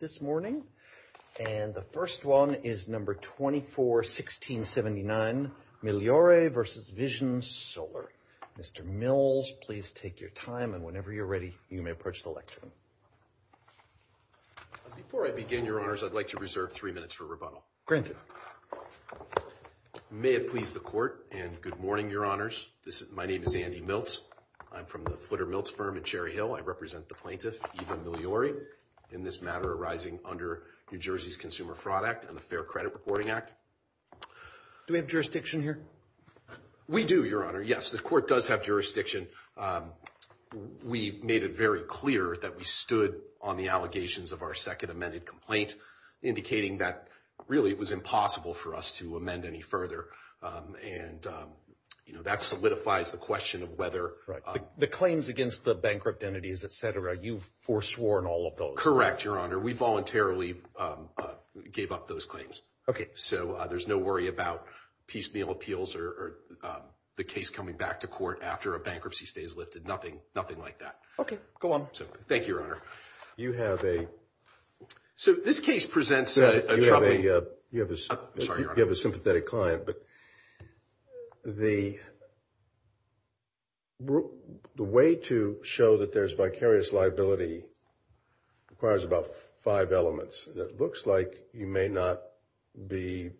This morning, and the first one is number 24 1679 Migliore v. Vision Solar. Mr. Mills, please take your time and whenever you're ready, you may approach the lectern. Before I begin, Your Honors, I'd like to reserve three minutes for rebuttal. May it please the court and good morning, Your Honors. This is my name is Andy Milts. I'm from the Flitter Milts firm in Cherry Hill. I represent the plaintiff, Eva Migliore. In this matter arising under New Jersey's Consumer Fraud Act and the Fair Credit Reporting Act. Do we have jurisdiction here? We do, Your Honor. Yes, the court does have jurisdiction. We made it very clear that we stood on the allegations of our second amended complaint, indicating that really it was impossible for us to amend any further. And, you know, that solidifies the question of whether the claims against the bankrupt entities, et cetera, you've foresworn all of those. Correct, Your Honor. We voluntarily gave up those claims. Okay. So there's no worry about piecemeal appeals or the case coming back to court after a bankruptcy stay is lifted. Nothing, nothing like that. Okay, go on. Thank you, Your Honor. You have a... So this case presents a troubling... You have a sympathetic client, but the way to show that there's vicarious liability requires about five elements. It looks like you may not be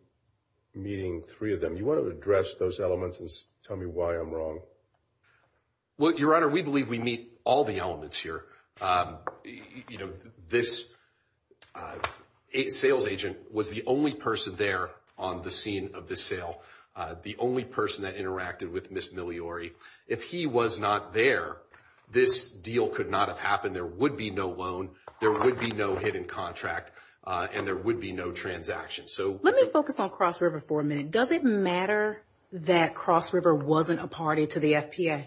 meeting three of them. You want to address those elements and tell me why I'm wrong? Well, Your Honor, we believe we meet all the elements here. You know, this sales agent was the only person there on the scene of the sale, the only person that interacted with Ms. Migliore. If he was not there, this deal could not have happened. There would be no loan, there would be no hidden contract, and there would be no transaction. So... Let me focus on Cross River for a minute. Does it matter that Cross River wasn't a party to the FPA?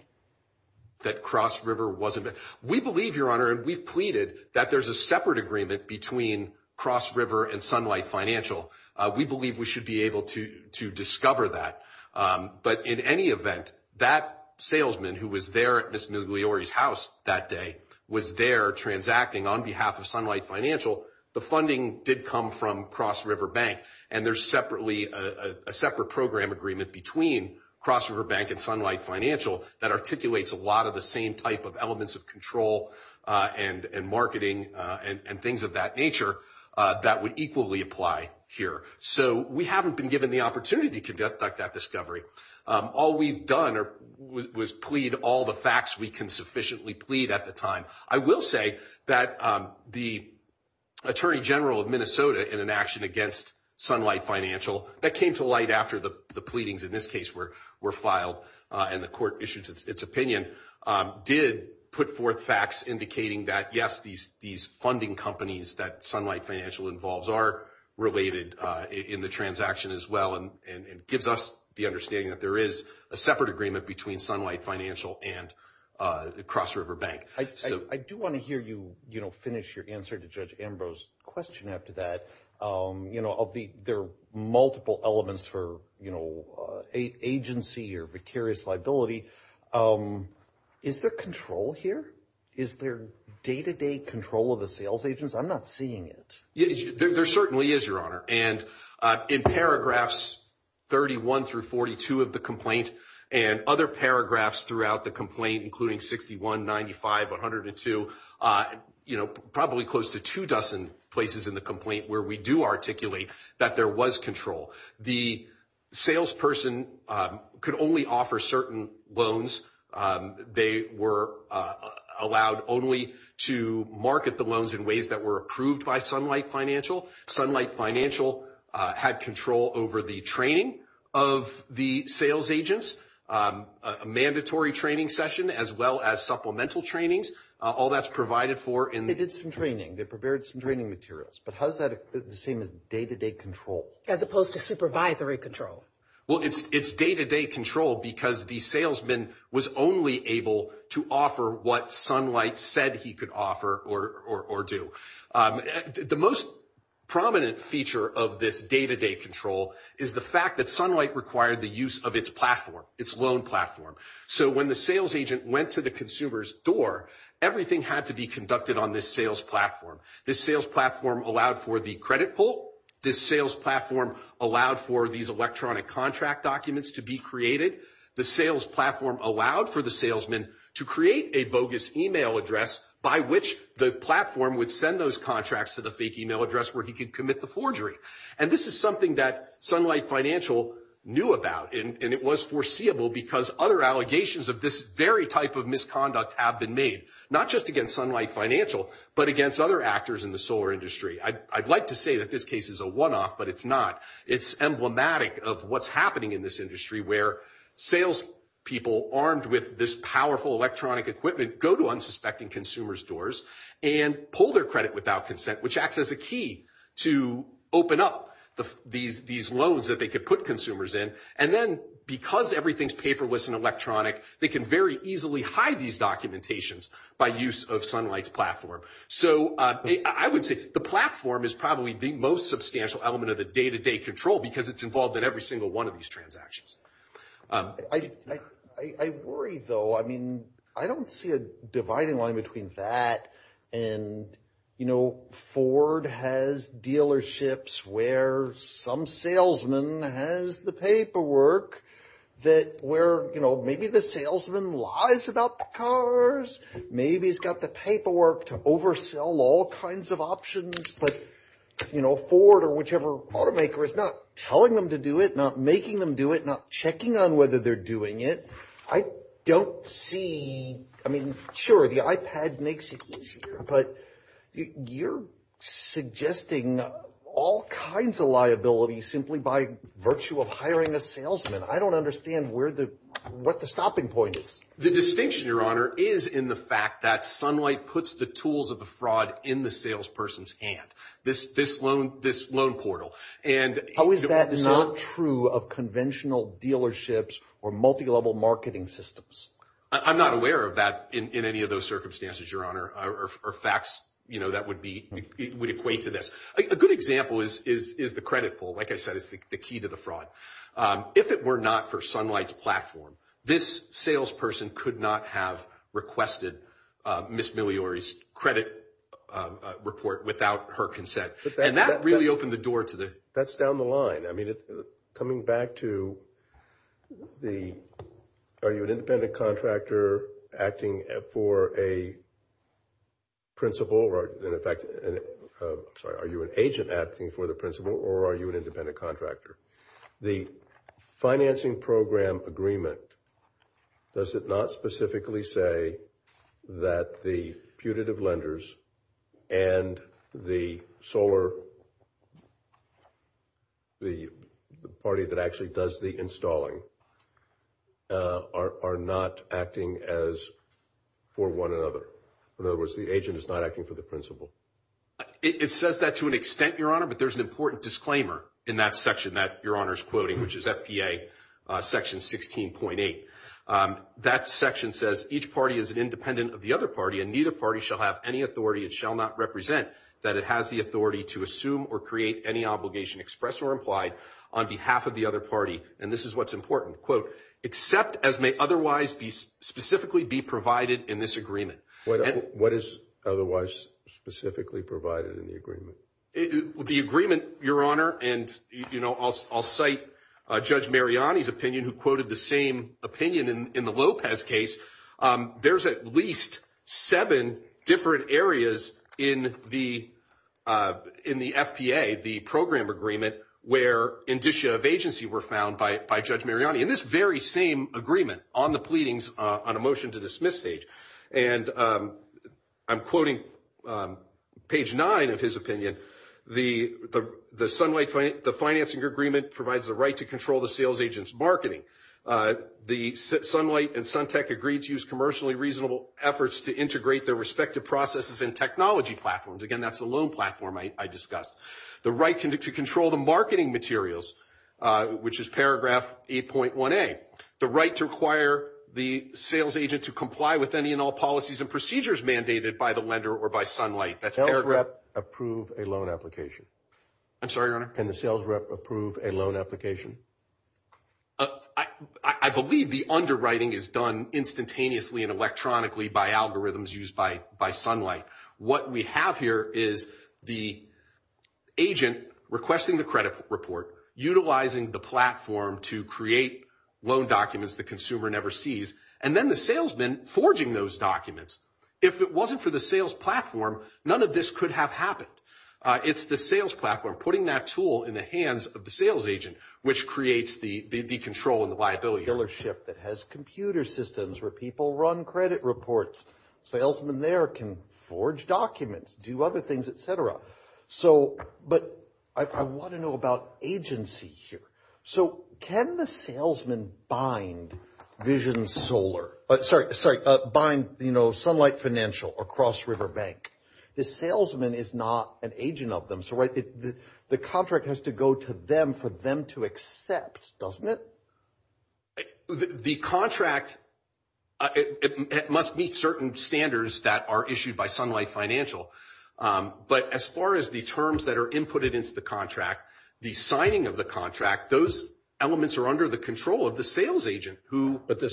That Cross River wasn't... We believe, Your Honor, and we've pleaded that there's a separate agreement between Cross River and Sunlight Financial. We believe we should be able to discover that. But in any event, that salesman who was there at Ms. Migliore's house that day was there transacting on behalf of Sunlight Financial. The funding did come from Cross River Bank, and there's a separate program agreement between Cross River Bank and Sunlight Financial that articulates a lot of the same type of elements of control and marketing and things of that nature that would equally apply here. So we haven't been given the opportunity to conduct that discovery. All we've done was plead all the facts we can sufficiently plead at the time. I will say that the Attorney General of Minnesota in an action against Sunlight Financial, that came to light after the pleadings in this case were filed and the court issued its opinion, did put forth facts indicating that, yes, these funding companies that Sunlight Financial involves are related in the transaction as well and gives us the understanding that there is a separate agreement between Sunlight Financial and Cross River Bank. I do want to hear you finish your answer to Judge Ambrose's question after that. You know, there are multiple elements for agency or precarious liability. Is there control here? Is there day-to-day control of the sales agents? I'm not seeing it. There certainly is, Your Honor. And in paragraphs 31 through 42 of the complaint and other paragraphs throughout the complaint, including 61, 95, 102, you know, probably close to two dozen places in the complaint where we do articulate that there was control. The salesperson could only offer certain loans. They were allowed only to market the loans in ways that were approved by Sunlight Financial. Sunlight Financial had control over the training of the sales agents, a mandatory training session as well as supplemental trainings. All that's provided for in the— They did some training. They prepared some training materials. But how is that the same as day-to-day control? As opposed to supervisory control. Well, it's day-to-day control because the salesman was only able to offer what Sunlight said he could offer or do. The most prominent feature of this day-to-day control is the fact that Sunlight required the of its platform, its loan platform. So when the sales agent went to the consumer's door, everything had to be conducted on this sales platform. This sales platform allowed for the credit pull. This sales platform allowed for these electronic contract documents to be created. The sales platform allowed for the salesman to create a bogus email address by which the platform would send those contracts to the fake email address where he could commit the forgery. And this is something that Sunlight Financial knew about. And it was foreseeable because other allegations of this very type of misconduct have been made, not just against Sunlight Financial, but against other actors in the solar industry. I'd like to say that this case is a one-off, but it's not. It's emblematic of what's happening in this industry where sales people armed with this powerful electronic equipment go to unsuspecting consumers' doors and pull their without consent, which acts as a key to open up these loans that they could put consumers in. And then because everything's paperless and electronic, they can very easily hide these documentations by use of Sunlight's platform. So I would say the platform is probably the most substantial element of the day-to-day control because it's involved in every single one of these transactions. I worry, though. I mean, I don't see a dividing line between that and, you know, Ford has dealerships where some salesman has the paperwork that where, you know, maybe the salesman lies about the cars. Maybe he's got the paperwork to oversell all kinds of options. But, you know, Ford or whichever automaker is not telling them to do it, not making them do it, not checking on whether they're doing it. I don't see, I mean, sure, the iPad makes it easier, but you're suggesting all kinds of liabilities simply by virtue of hiring a salesman. I don't understand where the, what the stopping point is. The distinction, Your Honor, is in the fact that Sunlight puts the tools of the fraud in the salesperson's hand, this loan portal. How is that not true of conventional dealerships or multi-level marketing systems? I'm not aware of that in any of those circumstances, Your Honor, or facts, you know, that would be, would equate to this. A good example is the credit pool. Like I said, it's the key to the fraud. If it were not for Sunlight's platform, this salesperson could not have requested Ms. Migliore's credit report without her consent. And that really opened the That's down the line. I mean, coming back to the, are you an independent contractor acting for a principal, or in fact, I'm sorry, are you an agent acting for the principal, or are you an independent contractor? The financing program agreement, does it not say that the putative lenders and the solar, the party that actually does the installing, are not acting as for one another? In other words, the agent is not acting for the principal. It says that to an extent, Your Honor, but there's an important disclaimer in that section that Your Honor's quoting, which is FPA Section 16.8. That section says, each party is an independent of the other party, and neither party shall have any authority. It shall not represent that it has the authority to assume or create any obligation expressed or implied on behalf of the other party. And this is what's important. Quote, except as may otherwise be specifically be provided in this agreement. What is otherwise specifically provided in the agreement? The agreement, Your Honor, and I'll cite Judge Mariani's opinion who quoted the same opinion in the Lopez case. There's at least seven different areas in the FPA, the program agreement, where indicia of agency were found by Judge Mariani. In this very same agreement on the the Sunlight, the financing agreement provides the right to control the sales agent's marketing. The Sunlight and Suntec agreed to use commercially reasonable efforts to integrate their respective processes and technology platforms. Again, that's the loan platform I discussed. The right to control the marketing materials, which is paragraph 8.1a. The right to require the sales agent to comply with any and all policies and procedures mandated by the lender or by the Sunlight. Can the sales rep approve a loan application? I believe the underwriting is done instantaneously and electronically by algorithms used by Sunlight. What we have here is the agent requesting the credit report, utilizing the platform to create loan documents the consumer never sees, and then the salesman forging those documents. If it wasn't for the sales platform, none of this could have happened. It's the sales platform putting that tool in the hands of the sales agent, which creates the control and the liability. Billership that has computer systems where people run credit reports. Salesman there can forge documents, do other things, etc. I want to know about agency here. Can the salesman bind Sunlight Financial or Cross River Bank? The salesman is not an agent of them. The contract has to go to them for them to accept, doesn't it? The contract must meet certain standards that are issued by Sunlight As far as the terms that are inputted into the contract, the signing of the contract, those elements are under the control of the sales agent. But the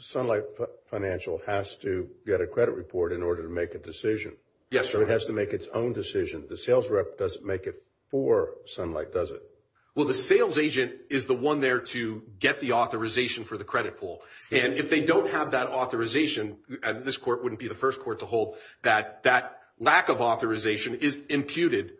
Sunlight Financial has to get a credit report in order to make a decision. Yes. So it has to make its own decision. The sales rep doesn't make it for Sunlight, does it? Well, the sales agent is the one there to get the authorization for the credit pool. And if they don't have that authorization, this court wouldn't be the first court to hold that that lack of authorization is imputed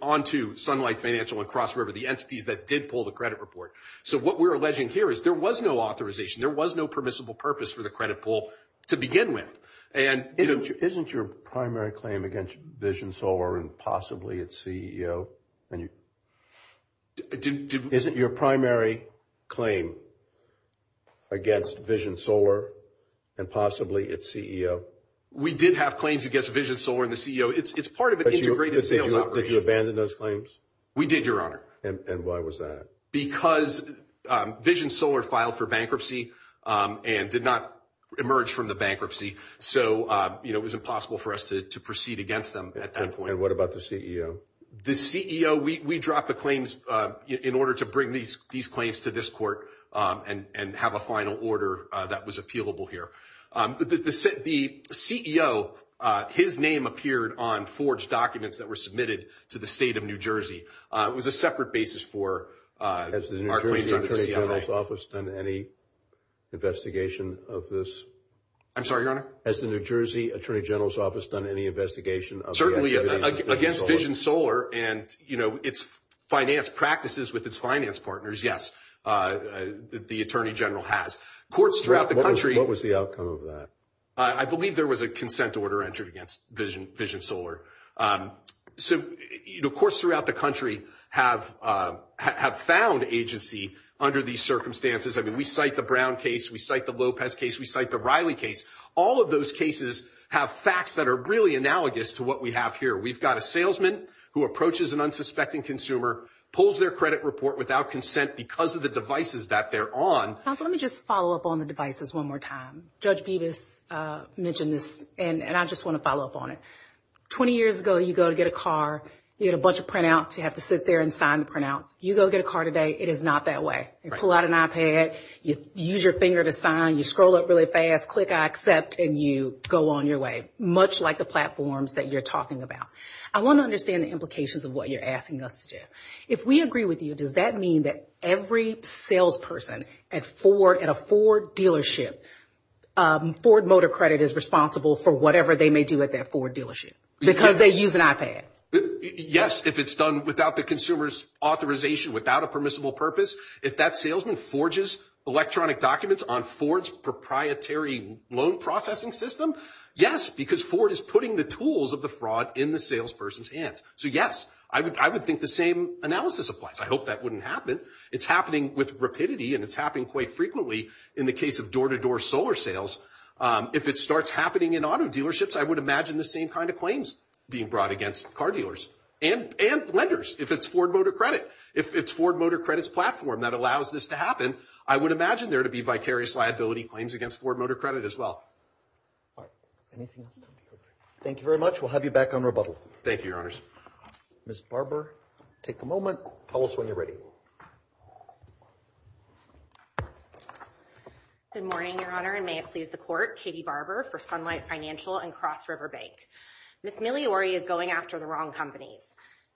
onto Sunlight Financial and Cross River, the entities that did pull the credit report. So what we're alleging here is there was no authorization. There was no permissible purpose for the credit pool to begin with. And isn't your primary claim against Vision Solar and possibly its CEO? We did have claims against Vision Solar and the CEO. It's part of an integrated sales operation. Did you abandon those claims? We did, Your Honor. And why was that? Because Vision Solar filed for bankruptcy and did not emerge from the bankruptcy. So, you know, it was impossible for us to proceed against them at that point. And what about the CEO? The CEO is the one that is in charge of We dropped the claims in order to bring these claims to this court and have a final order that was appealable here. The CEO, his name appeared on forged documents that were submitted to the state of New Jersey. It was a separate basis for our claims on the CFA. Has the New Jersey Attorney General's Office done any investigation of this? I'm sorry, Your Honor? Has the New Jersey finance practices with its finance partners? Yes, the Attorney General has. What was the outcome of that? I believe there was a consent order entered against Vision Solar. So, you know, courts throughout the country have found agency under these circumstances. I mean, we cite the Brown case. We cite the Lopez case. We cite the Riley case. All of those cases have facts that are really analogous to what we have here. We've got a salesman who approaches an unsuspecting consumer, pulls their credit report without consent because of the devices that they're on. Counsel, let me just follow up on the devices one more time. Judge Bevis mentioned this, and I just want to follow up on it. 20 years ago, you go to get a car, you get a bunch of printouts, you have to sit there and sign the printouts. You go get a car today, it is not that way. You pull out an iPad, you use your finger to sign, you scroll up really fast, click I accept, and you go on your way, much like the platforms that you're talking about. I want to understand the implications of what you're asking us to do. If we agree with you, does that mean that every salesperson at a Ford dealership, Ford Motor Credit is responsible for whatever they may do at that Ford dealership because they use an iPad? Yes, if it's done without the consumer's authorization, without a permissible purpose. If that salesman forges electronic documents on Ford's proprietary loan processing system, yes, because Ford is putting the tools of the fraud in the salesperson's hands. So yes, I would think the same analysis applies. I hope that wouldn't happen. It's happening with rapidity and it's happening quite frequently in the case of door to door solar sales. If it starts happening in auto dealerships, I would imagine the same kind of claims being brought against car dealers and lenders if it's Ford Motor Credit. If it's Ford claims against Ford Motor Credit as well. All right. Anything else? Thank you very much. We'll have you back on rebuttal. Thank you, Your Honors. Ms. Barber, take a moment. Tell us when you're ready. Good morning, Your Honor, and may it please the Court. Katie Barber for Sunlight Financial and Cross River Bank. Ms. Migliore is going after the wrong companies.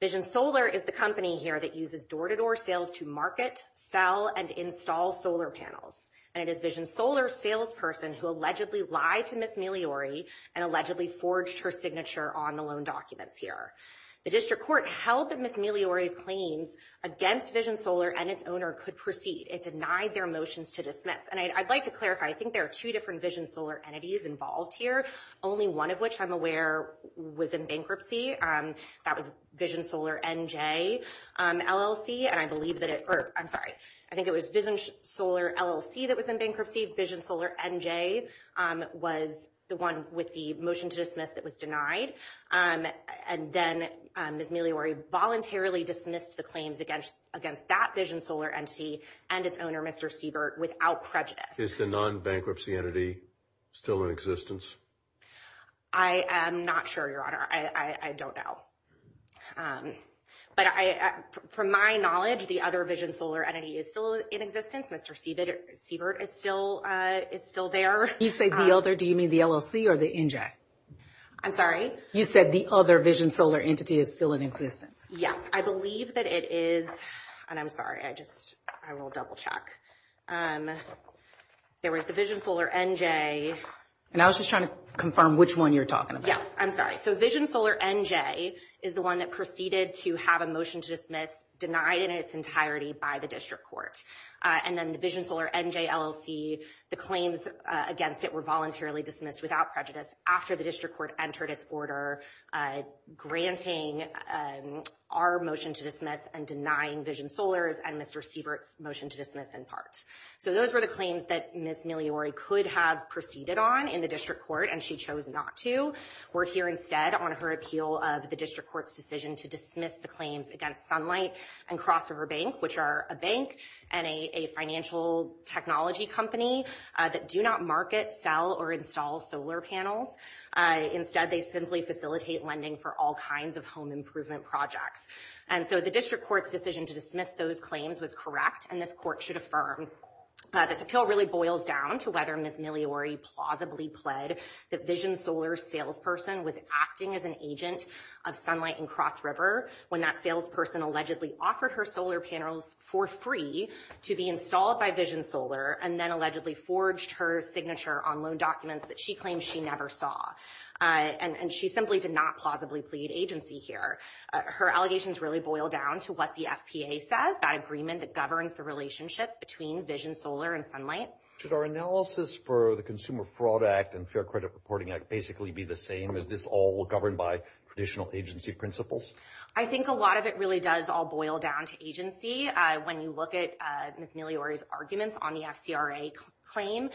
Vision Solar is the company here uses door to door sales to market, sell, and install solar panels. And it is Vision Solar's salesperson who allegedly lied to Ms. Migliore and allegedly forged her signature on the loan documents here. The District Court held that Ms. Migliore's claims against Vision Solar and its owner could proceed. It denied their motions to dismiss. And I'd like to clarify, I think there are two different Vision Solar entities involved here, only one of which I'm aware was in bankruptcy. That was Vision Solar NJ LLC. And I believe that it, or I'm sorry, I think it was Vision Solar LLC that was in bankruptcy. Vision Solar NJ was the one with the motion to dismiss that was denied. And then Ms. Migliore voluntarily dismissed the claims against that Vision Solar entity and its owner, Mr. Siebert, without prejudice. Is the non-bankruptcy entity still in existence? I am not sure, Your Honor. I don't know. But from my knowledge, the other Vision Solar entity is still in existence. Mr. Siebert is still there. You say the other, do you mean the LLC or the NJ? I'm sorry? You said the other Vision Solar entity is still in existence. Yes, I believe that it is. And I'm sorry, I just, I will double check. There was the Vision Solar NJ and I was just trying to confirm which one you're talking about. Yes, I'm sorry. So Vision Solar NJ is the one that proceeded to have a motion to dismiss denied in its entirety by the district court. And then the Vision Solar NJ LLC, the claims against it were voluntarily dismissed without prejudice after the district court entered its order granting our motion to dismiss and denying Vision Solar's and Mr. Siebert's motion to dismiss in part. So those were the claims that Ms. Migliore could have proceeded on in the district court and she chose not to. We're here instead on her appeal of the district court's decision to dismiss the claims against Sunlight and Crossover Bank, which are a bank and a financial technology company that do not market, sell, or install solar panels. Instead, they simply facilitate lending for all kinds of home improvement projects. And so the district court's decision to dismiss those claims was correct and this court should affirm. This appeal really boils down to whether Ms. Migliore plausibly pled that Vision Solar's salesperson was acting as an agent of Sunlight and Crossover when that salesperson allegedly offered her solar panels for free to be installed by Vision Solar and then allegedly forged her signature on loan documents that she claimed she never saw. And she simply did not plausibly plead agency here. Her allegations really boil down to what the FPA says, that governs the relationship between Vision Solar and Sunlight. Should our analysis for the Consumer Fraud Act and Fair Credit Reporting Act basically be the same? Is this all governed by traditional agency principles? I think a lot of it really does all boil down to agency. When you look at Ms. Migliore's arguments on the FCRA claim,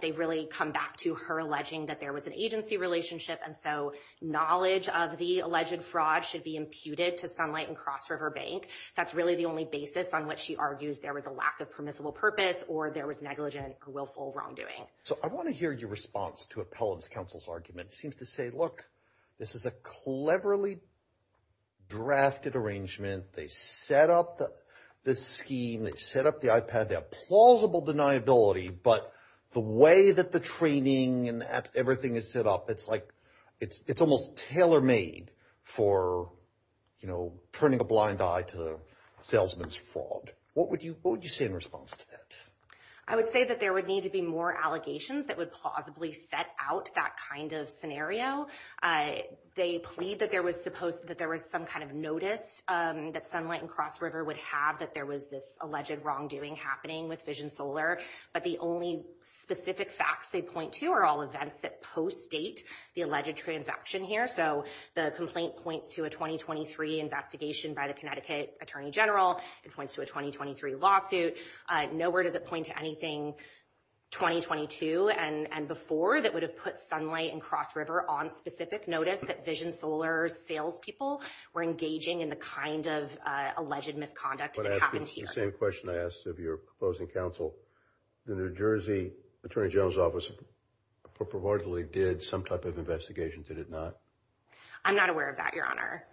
they really come back to her alleging that there was an agency relationship and so knowledge of the alleged fraud should be imputed to Sunlight and Crossover Bank. That's really the only basis on which she argues there was a lack of permissible purpose or there was negligent or willful wrongdoing. So I want to hear your response to Appellant's counsel's argument. Seems to say, look, this is a cleverly drafted arrangement. They set up the scheme, they set up the iPad, they have plausible deniability, but the way that the everything is set up, it's almost tailor-made for turning a blind eye to a salesman's fraud. What would you say in response to that? I would say that there would need to be more allegations that would plausibly set out that kind of scenario. They plead that there was some kind of notice that Sunlight and Crossover would have that there was this alleged wrongdoing happening with Vision Solar, but the only specific facts they point to are all events that post-date the alleged transaction here. So the complaint points to a 2023 investigation by the Connecticut Attorney General. It points to a 2023 lawsuit. Nowhere does it point to anything 2022 and before that would have put Sunlight and Crossover on specific notice that Vision Solar's salespeople were engaging in the kind of alleged misconduct that happened here. The same question I asked of your proposing counsel. The New Jersey Attorney General's Office reportedly did some type of investigation, did it not? I'm not aware of that, Your Honor.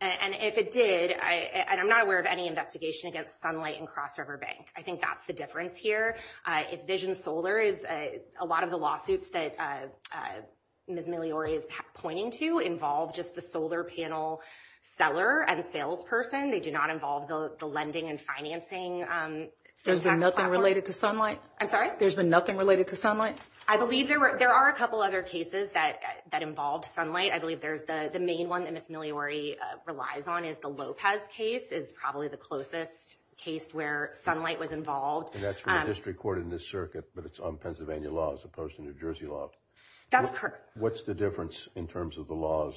And if it did, and I'm not aware of any investigation against Sunlight and Crossover Bank. I think that's the difference here. If Vision Solar is, a lot of the lawsuits that Ms. Migliore is pointing to involve just the solar panel seller and salesperson. They do not involve the lending and financing. There's been nothing related to Sunlight? I'm sorry? There's been nothing related to Sunlight? I believe there were, there are a couple other cases that involved Sunlight. I believe there's the main one that Ms. Migliore relies on is the Lopez case is probably the closest case where Sunlight was involved. And that's from a district court in this circuit, but it's on Pennsylvania law as opposed to New Jersey law. That's correct. What's the difference in terms of the laws?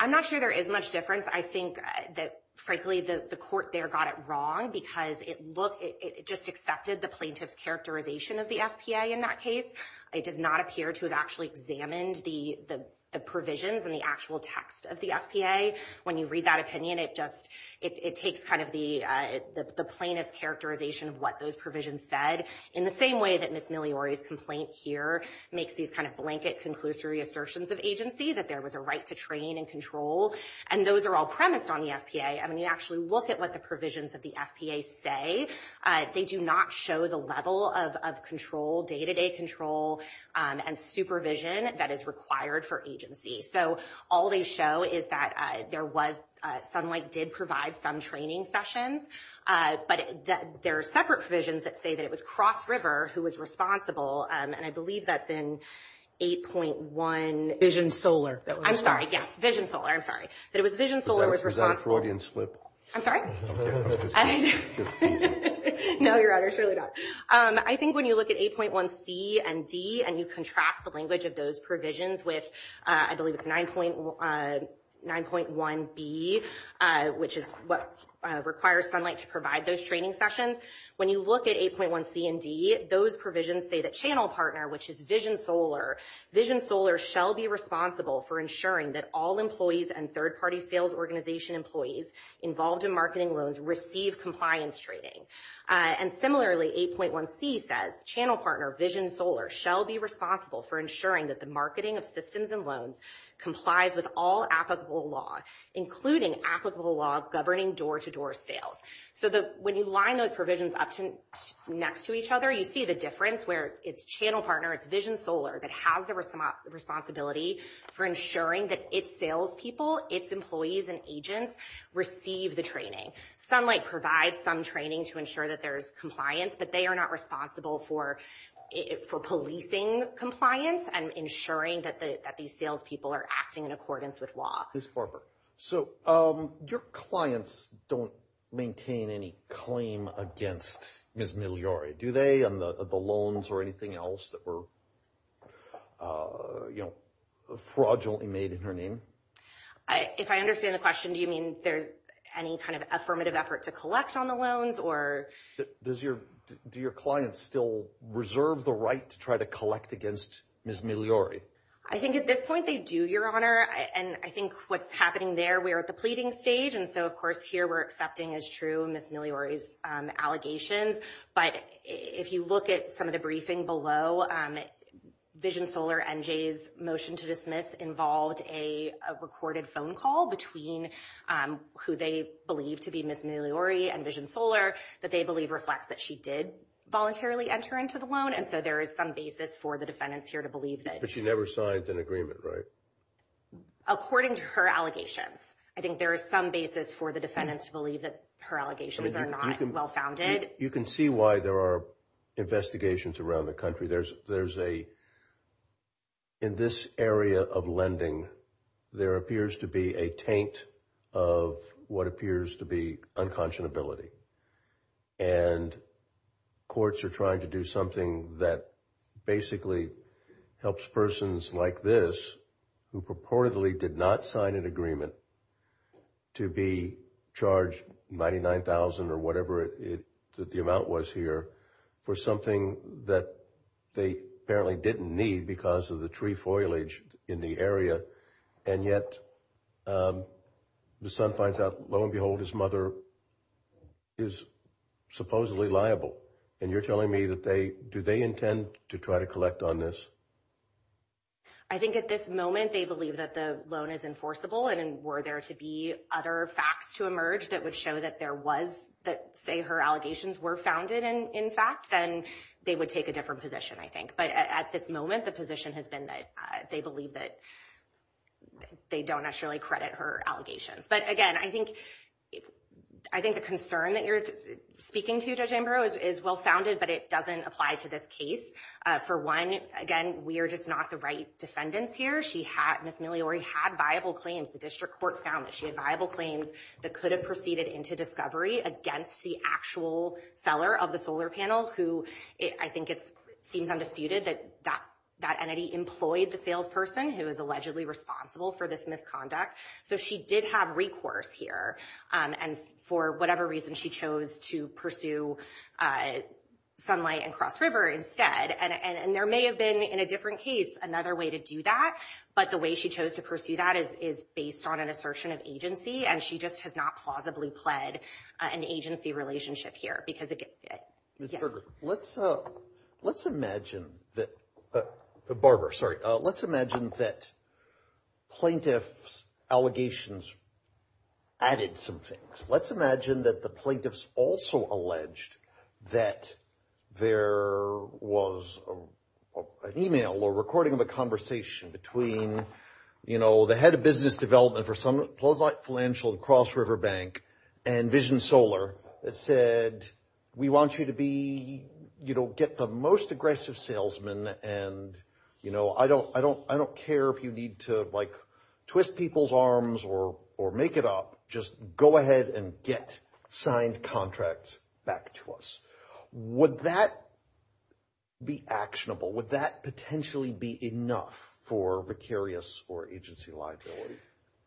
I'm not sure there is much difference. I think that, frankly, the court there got it wrong because it just accepted the plaintiff's characterization of the FPA in that case. It does not appear to have actually examined the provisions and the actual text of the FPA. When you read that opinion, it just, it takes kind of the plaintiff's characterization of what those provisions said. In the same way that Ms. Migliore's complaint here makes these kind of blanket conclusory assertions of agency that there was a right to train and control. And those are all premised on the FPA. I mean, you actually look at what the provisions of the FPA say. They do not show the level of control, day-to-day control and supervision that is required for agency. So all they show is that there was, Sunlight did provide some training sessions, but there are separate provisions that say that it was Cross River who was responsible. And I believe that's in 8.1... Vision Solar. I'm sorry. Yes. Vision Solar. I'm sorry. That it was Vision Solar who was responsible. Is that a Freudian slip? I'm sorry? No, Your Honor, surely not. I think when you look at 8.1c and d, and you contrast the language of those provisions with, I believe it's 9.1b, which is what requires Sunlight to provide those training sessions. When you look at 8.1c and d, those provisions say that Channel Partner, which is Vision Solar, Vision Solar shall be responsible for ensuring that all employees and third-party sales organization employees involved in marketing loans receive compliance training. And similarly, 8.1c says, Channel Partner, Vision Solar shall be responsible for ensuring that the marketing of systems and loans complies with all applicable law, including applicable law governing door-to-door sales. So when you line those provisions up next to each other, you see the difference where it's Channel Partner, it's Vision Solar that has the responsibility for ensuring that its salespeople, its employees and agents receive the training. Sunlight provides some training to ensure that there's compliance, but they are not responsible for policing compliance and ensuring that these salespeople are acting in accordance with law. So your clients don't maintain any claim against Ms. Migliore, do they, on the loans or anything else that were, you know, fraudulently made in her name? If I understand the question, do you mean there's any kind of affirmative effort to collect on the loans or? Does your, do your clients still reserve the right to try to collect against Ms. Migliore? I think at this point they do, Your Honor. And I think what's happening there, we're at the pleading stage. And so, of course, here we're accepting as true Ms. Migliore's allegations. But if you look at some of the briefing below, Vision Solar NJ's motion to dismiss involved a recorded phone call between who they believe to be Ms. Migliore and Vision Solar that they believe reflects that she did voluntarily enter into the loan. And so there is some basis for the defendants here to believe that. But she never signed an agreement, right? According to her allegations. I think there is some basis for the defendants to believe that her allegations are not well-founded. You can see why there are investigations around the country. In this area of lending, there appears to be a taint of what appears to be unconscionability. And courts are trying to do something that basically helps persons like this who purportedly did not sign an agreement to be charged $99,000 or whatever the amount was here for something that they apparently didn't need because of the tree foliage in the area. And yet the son finds out, lo and behold, his mother is supposedly liable. And you're telling me that they, do they intend to try to collect on this? I think at this moment, they believe that the loan is enforceable. And were there to be other facts to emerge that would show that there was, that say her allegations were founded in fact, then they would take a different position, I think. At this moment, the position has been that they believe that they don't necessarily credit her allegations. But again, I think the concern that you're speaking to, Judge Ambrose, is well-founded, but it doesn't apply to this case. For one, again, we are just not the right defendants here. Ms. Migliore had viable claims. The district court found that she had viable claims that could have proceeded into discovery against the actual seller of the solar panel, who I think it seems undisputed that that entity employed the salesperson who is allegedly responsible for this misconduct. So she did have recourse here. And for whatever reason, she chose to pursue sunlight and cross river instead. And there may have been, in a different case, another way to do that. But the way she chose to pursue that is based on an assertion of agency. And she just has not plausibly pled an agency relationship here. Because it... Ms. Berger, let's imagine that... Barbara, sorry. Let's imagine that plaintiff's allegations added some things. Let's imagine that the plaintiffs also alleged that there was an email or recording of a conversation between, you know, head of business development for Sunlight Financial and Cross River Bank and Vision Solar that said, we want you to be, you know, get the most aggressive salesman. And, you know, I don't care if you need to, like, twist people's arms or make it up. Just go ahead and get signed contracts back to us. Would that be actionable? Would that potentially be enough for vicarious or agency liability?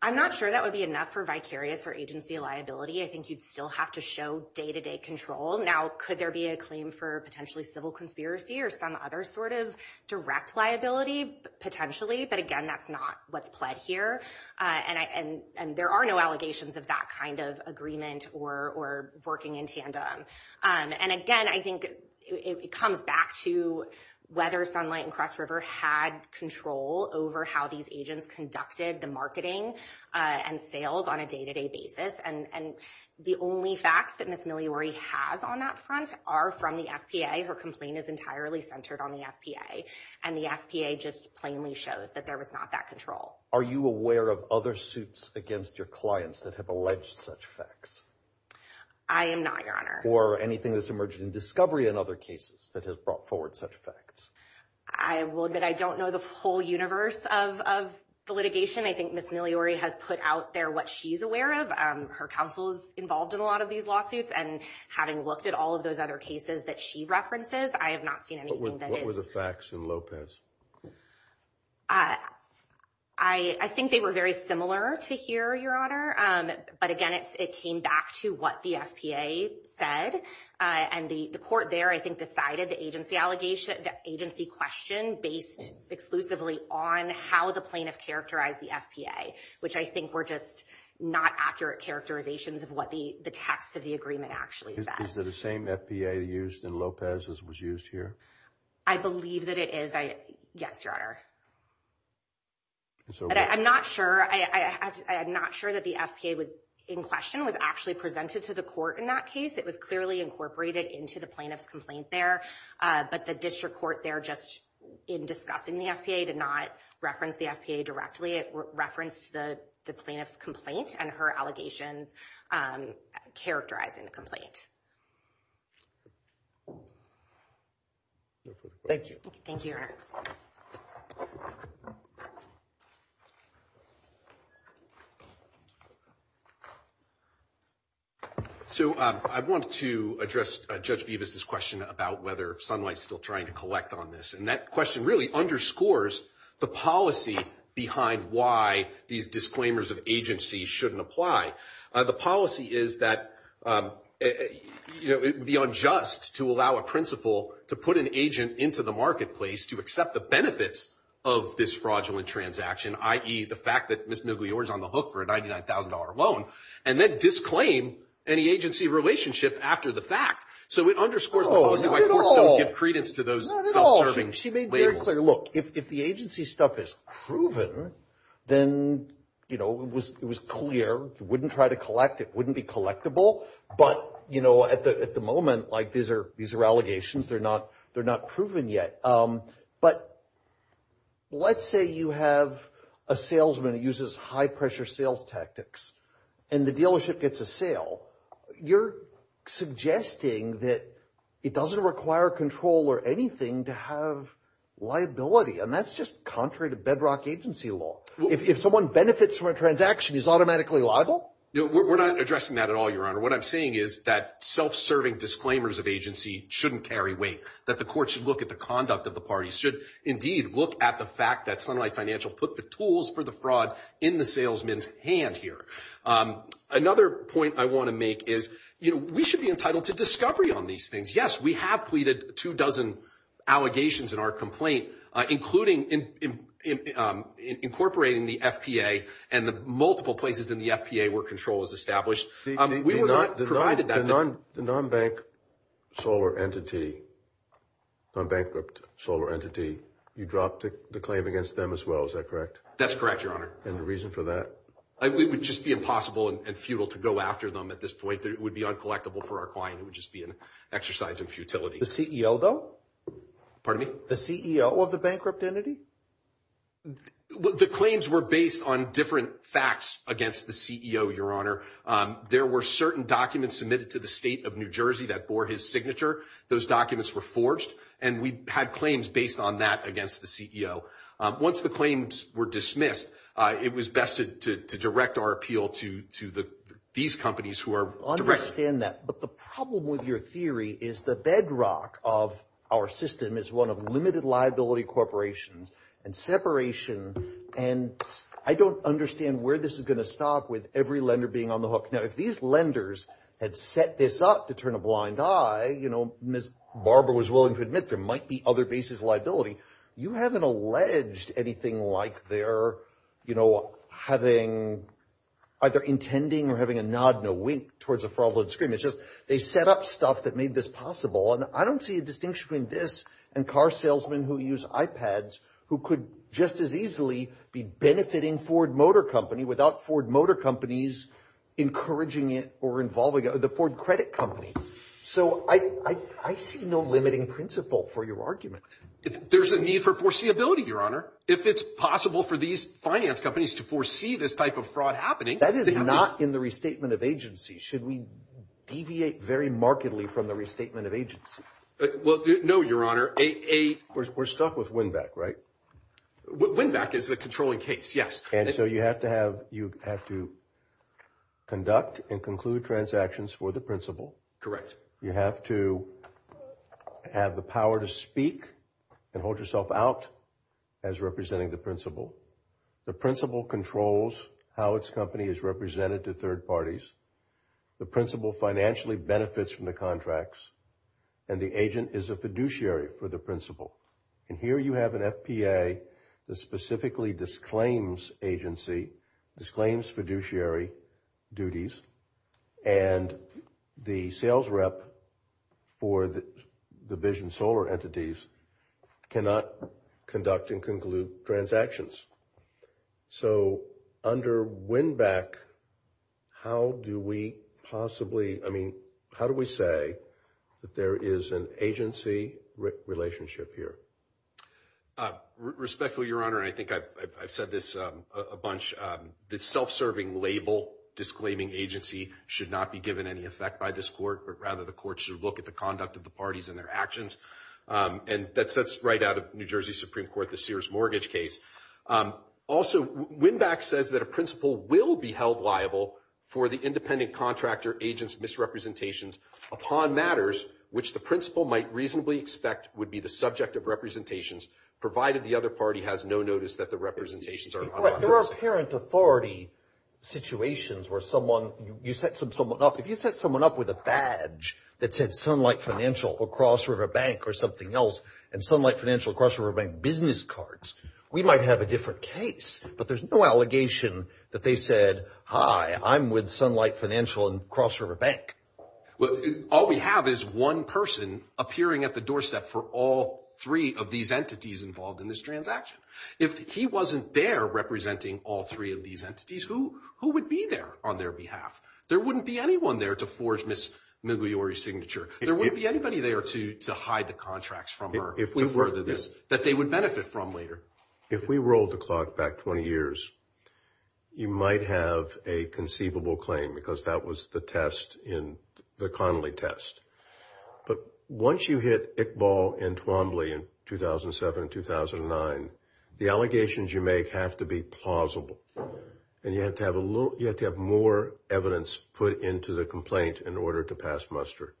I'm not sure that would be enough for vicarious or agency liability. I think you'd still have to show day-to-day control. Now, could there be a claim for potentially civil conspiracy or some other sort of direct liability, potentially? But again, that's not what's pled here. And there are no allegations of that kind of agreement or working in tandem. And again, I think it comes back to whether Sunlight and Cross River had control over how these agents conducted the marketing and sales on a day-to-day basis. And the only facts that Ms. Miliori has on that front are from the FPA. Her complaint is entirely centered on the FPA. And the FPA just plainly shows that there was not that control. Are you aware of other suits against your clients that have alleged such facts? I am not, Your Honor. Or anything that's emerged in discovery in other cases that has brought forward such facts? I will admit I don't know the whole universe of the litigation. I think Ms. Miliori has put out there what she's aware of. Her counsel's involved in a lot of these lawsuits. And having looked at all of those other cases that she references, I have not seen anything that is- What were the facts in Lopez? I think they were very similar to here, Your Honor. But again, it came back to what the FPA said. And the court there, I think, decided the agency question based exclusively on how the plaintiff characterized the FPA, which I think were just not accurate characterizations of what the text of the agreement actually said. Is it the same FPA used in Lopez as was used here? I believe that it is. Yes, Your Honor. I'm not sure that the FPA was in question, was actually presented to the court in that case. It was clearly incorporated into the plaintiff's complaint there. But the district court there, just in discussing the FPA, did not reference the FPA directly. It referenced the plaintiff's complaint and her allegations characterizing the complaint. Thank you. Thank you, Your Honor. So I want to address Judge Bevis's question about whether Sunlight's still trying to collect on this. And that question really underscores the policy behind why these disclaimers of agency shouldn't apply. The policy is that it would be unjust to allow a principal to put an agent into the marketplace to accept the benefits of this fraudulent transaction, i.e. the fact that Ms. Muguior is on the hook for a $99,000 loan and then disclaim any agency relationship after the fact. So it underscores the policy why courts don't give credence to those self-serving labels. Not at all. She made very clear. Look, if the agency stuff is proven, then it was clear. You wouldn't try to collect. It wouldn't be collectible. But at the moment, these are allegations. They're not proven yet. But let's say you have a salesman who uses high-pressure sales tactics and the dealership gets a sale. You're suggesting that it doesn't require control or anything to have liability. And that's just contrary to bedrock agency law. If someone benefits from a transaction, he's automatically liable? We're not addressing that at all, Your Honor. What I'm saying is that self-serving disclaimers of agency shouldn't carry weight, that the court should look at the conduct of the parties, should indeed look at the fact that Sunlight Financial put the tools for the fraud in the salesman's hand here. Another point I want to make is, you know, we should be entitled to discovery on these things. Yes, we have pleaded two dozen allegations in our complaint, including incorporating the FPA and the multiple places in the FPA where control is established. We were not provided that. The non-bank solar entity, non-bankrupt solar entity, you dropped the claim against them as well. Is that correct? That's correct, Your Honor. And the reason for that? It would just be impossible and futile to go after them at this point. It would be uncollectible for our client. It would just be an exercise in futility. The CEO, though? Pardon me? The CEO of the bankrupt entity? The claims were based on different facts against the CEO, Your Honor. There were certain documents submitted to the state of New Jersey that bore his signature. Those documents were forged, and we had claims based on that against the CEO. Once the claims were dismissed, it was best to direct our appeal to these companies who are directing. I understand that. But the problem with your theory is the bedrock of our system is one of limited liability corporations and separation. And I don't understand where this is going to stop with every lender being on the hook. Now, if these lenders had set this up to turn a blind eye, you know, Ms. Barber was willing to admit there might be other bases of liability. You haven't alleged anything like they're, you know, having either intending or having a nod and a wink towards a fraudulent scheme. It's just they set up stuff that made this possible. And I don't see a distinction between this and car salesmen who use iPads who could just as easily be benefiting Ford Motor Company without Ford Motor Company's encouraging it or involving the Ford Credit Company. So I see no limiting principle for your argument. There's a need for foreseeability, Your Honor. If it's possible for these finance companies to foresee this type of fraud happening. That is not in the restatement of agency. Should we deviate very markedly from the restatement of agency? Well, no, Your Honor. We're stuck with Winback, right? Winback is the controlling case, yes. And so you have to have, you have to conduct and conclude transactions for the principal. Correct. You have to have the power to speak and hold yourself out as representing the principal. The principal controls how its company is represented to third parties. The principal financially benefits from the contracts. And the agent is a fiduciary for the principal. And here you have an FPA that specifically disclaims agency, disclaims fiduciary duties. And the sales rep for the Vision Solar entities cannot conduct and conclude transactions. So under Winback, how do we possibly, I mean, how do we say that there is an agency relationship here? Respectfully, Your Honor, I think I've said this a bunch, this self-serving label, disclaiming agency should not be given any effect by this court, but rather the court should look at the conduct of the parties and their actions. And that's right out of New Jersey Supreme Court, the Sears mortgage case. Also, Winback says that a principal will be held liable for the independent contractor agent's misrepresentations upon matters which the principal might reasonably expect would be the subject of representations, provided the other party has no notice that the representations are unlawful. There are parent authority situations where someone, you set someone up, if you set someone up with a badge that said Sunlight Financial or Cross River Bank or something else, and Sunlight Financial, Cross River Bank business cards, we might have a different case. But there's no allegation that they said, hi, I'm with Sunlight Financial and Cross River Bank. Well, all we have is one person appearing at the doorstep for all three of these entities involved in this transaction. If he wasn't there representing all three of these entities, who would be there on their behalf? There wouldn't be anyone there to forge Ms. Migliore's signature. There wouldn't be anybody there to hide the contracts from her to further this that they would benefit from later. If we rolled the clock back 20 years, you might have a conceivable claim because that was the test in the Connolly test. But once you hit Iqbal and Twombly in 2007 and 2009, the allegations you make have to be plausible. And you have to have a little, you have to have more evidence put into the complaint in order to pass muster.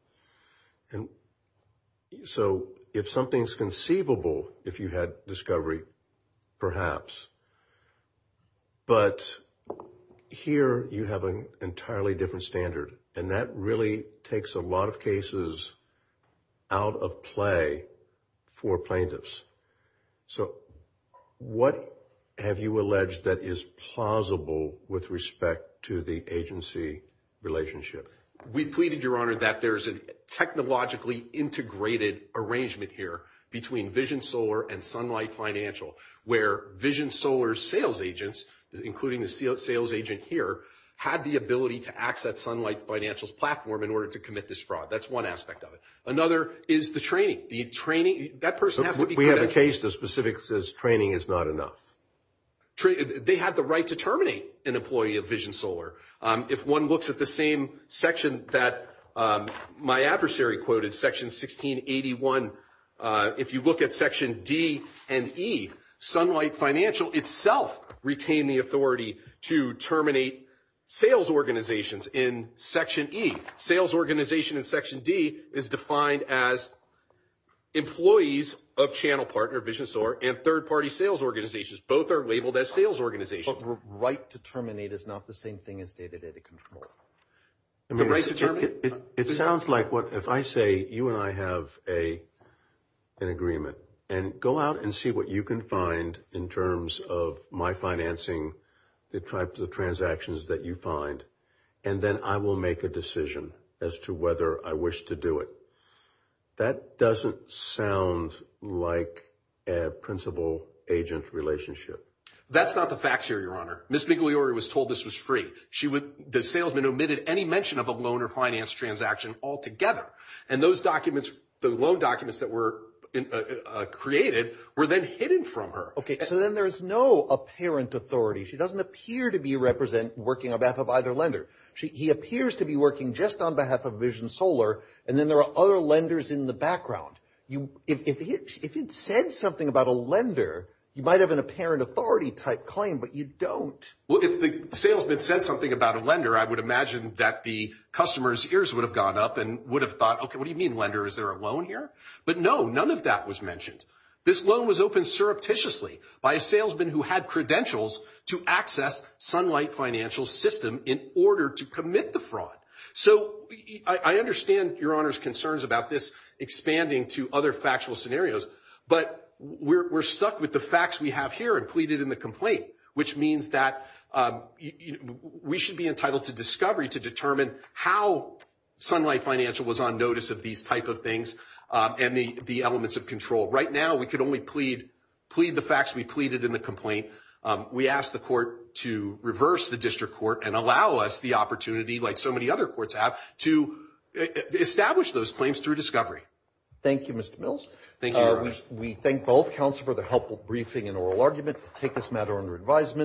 So if something's conceivable, if you had discovery, perhaps. But here you have an entirely different standard. And that really takes a lot of cases out of play for plaintiffs. So what have you alleged that is plausible with respect to the agency relationship? We pleaded, Your Honor, that there's a technologically integrated arrangement here between Vision Solar and Sunlight Financial, where Vision Solar's sales agents, including the sales agent here, had the ability to access Sunlight Financial's platform in order to commit this fraud. That's one aspect of it. Another is the training. The training, that person has to be- We have a case that specifically says training is not enough. They have the right to terminate an employee of Vision Solar. If one looks at the same section that my adversary quoted, section 1681, if you look at section D and E, Sunlight Financial itself retained the authority to terminate sales organizations in section E. Sales organization in section D is defined as employees of channel partner Vision Solar and third-party sales organizations. Both are labeled as sales organizations. But the right to terminate is not the same thing as day-to-day control. The right to terminate- It sounds like if I say you and I have an agreement and go out and see what you can find in terms of my financing, the types of transactions that you find, and then I will make a decision as to whether I wish to do it. That doesn't sound like a principal-agent relationship. That's not the facts here, Your Honor. Ms. Migliore was told this was free. The salesman omitted any mention of a loan or finance transaction altogether. And those documents, the loan documents that were created were then hidden from her. So then there's no apparent authority. She doesn't appear to be working on behalf of either lender. He appears to be working just on behalf of Vision Solar. And then there are other lenders in the background. If it said something about a lender, you might have an apparent authority-type claim, but you don't. Well, if the salesman said something about a lender, I would imagine that the customer's ears would have gone up and would have thought, okay, what do you mean, lender? Is there a loan here? But no, none of that was mentioned. This loan was opened surreptitiously by a salesman who had credentials to access Sunlight Financial's system in order to commit the fraud. So I understand Your Honor's concerns about this expanding to other factual scenarios, but we're stuck with the facts we have here and pleaded in the complaint, which means that we should be entitled to discovery to determine how Sunlight Financial was on notice of these type of things and the elements of control. Right now, we could only plead the facts we pleaded in the complaint. We ask the court to reverse the district court and allow us the opportunity, like so many other courts have, to establish those claims through discovery. Thank you, Mr. Mills. Thank you, Your Honor. We thank both counsel for the helpful briefing and oral argument to take this matter under advisement.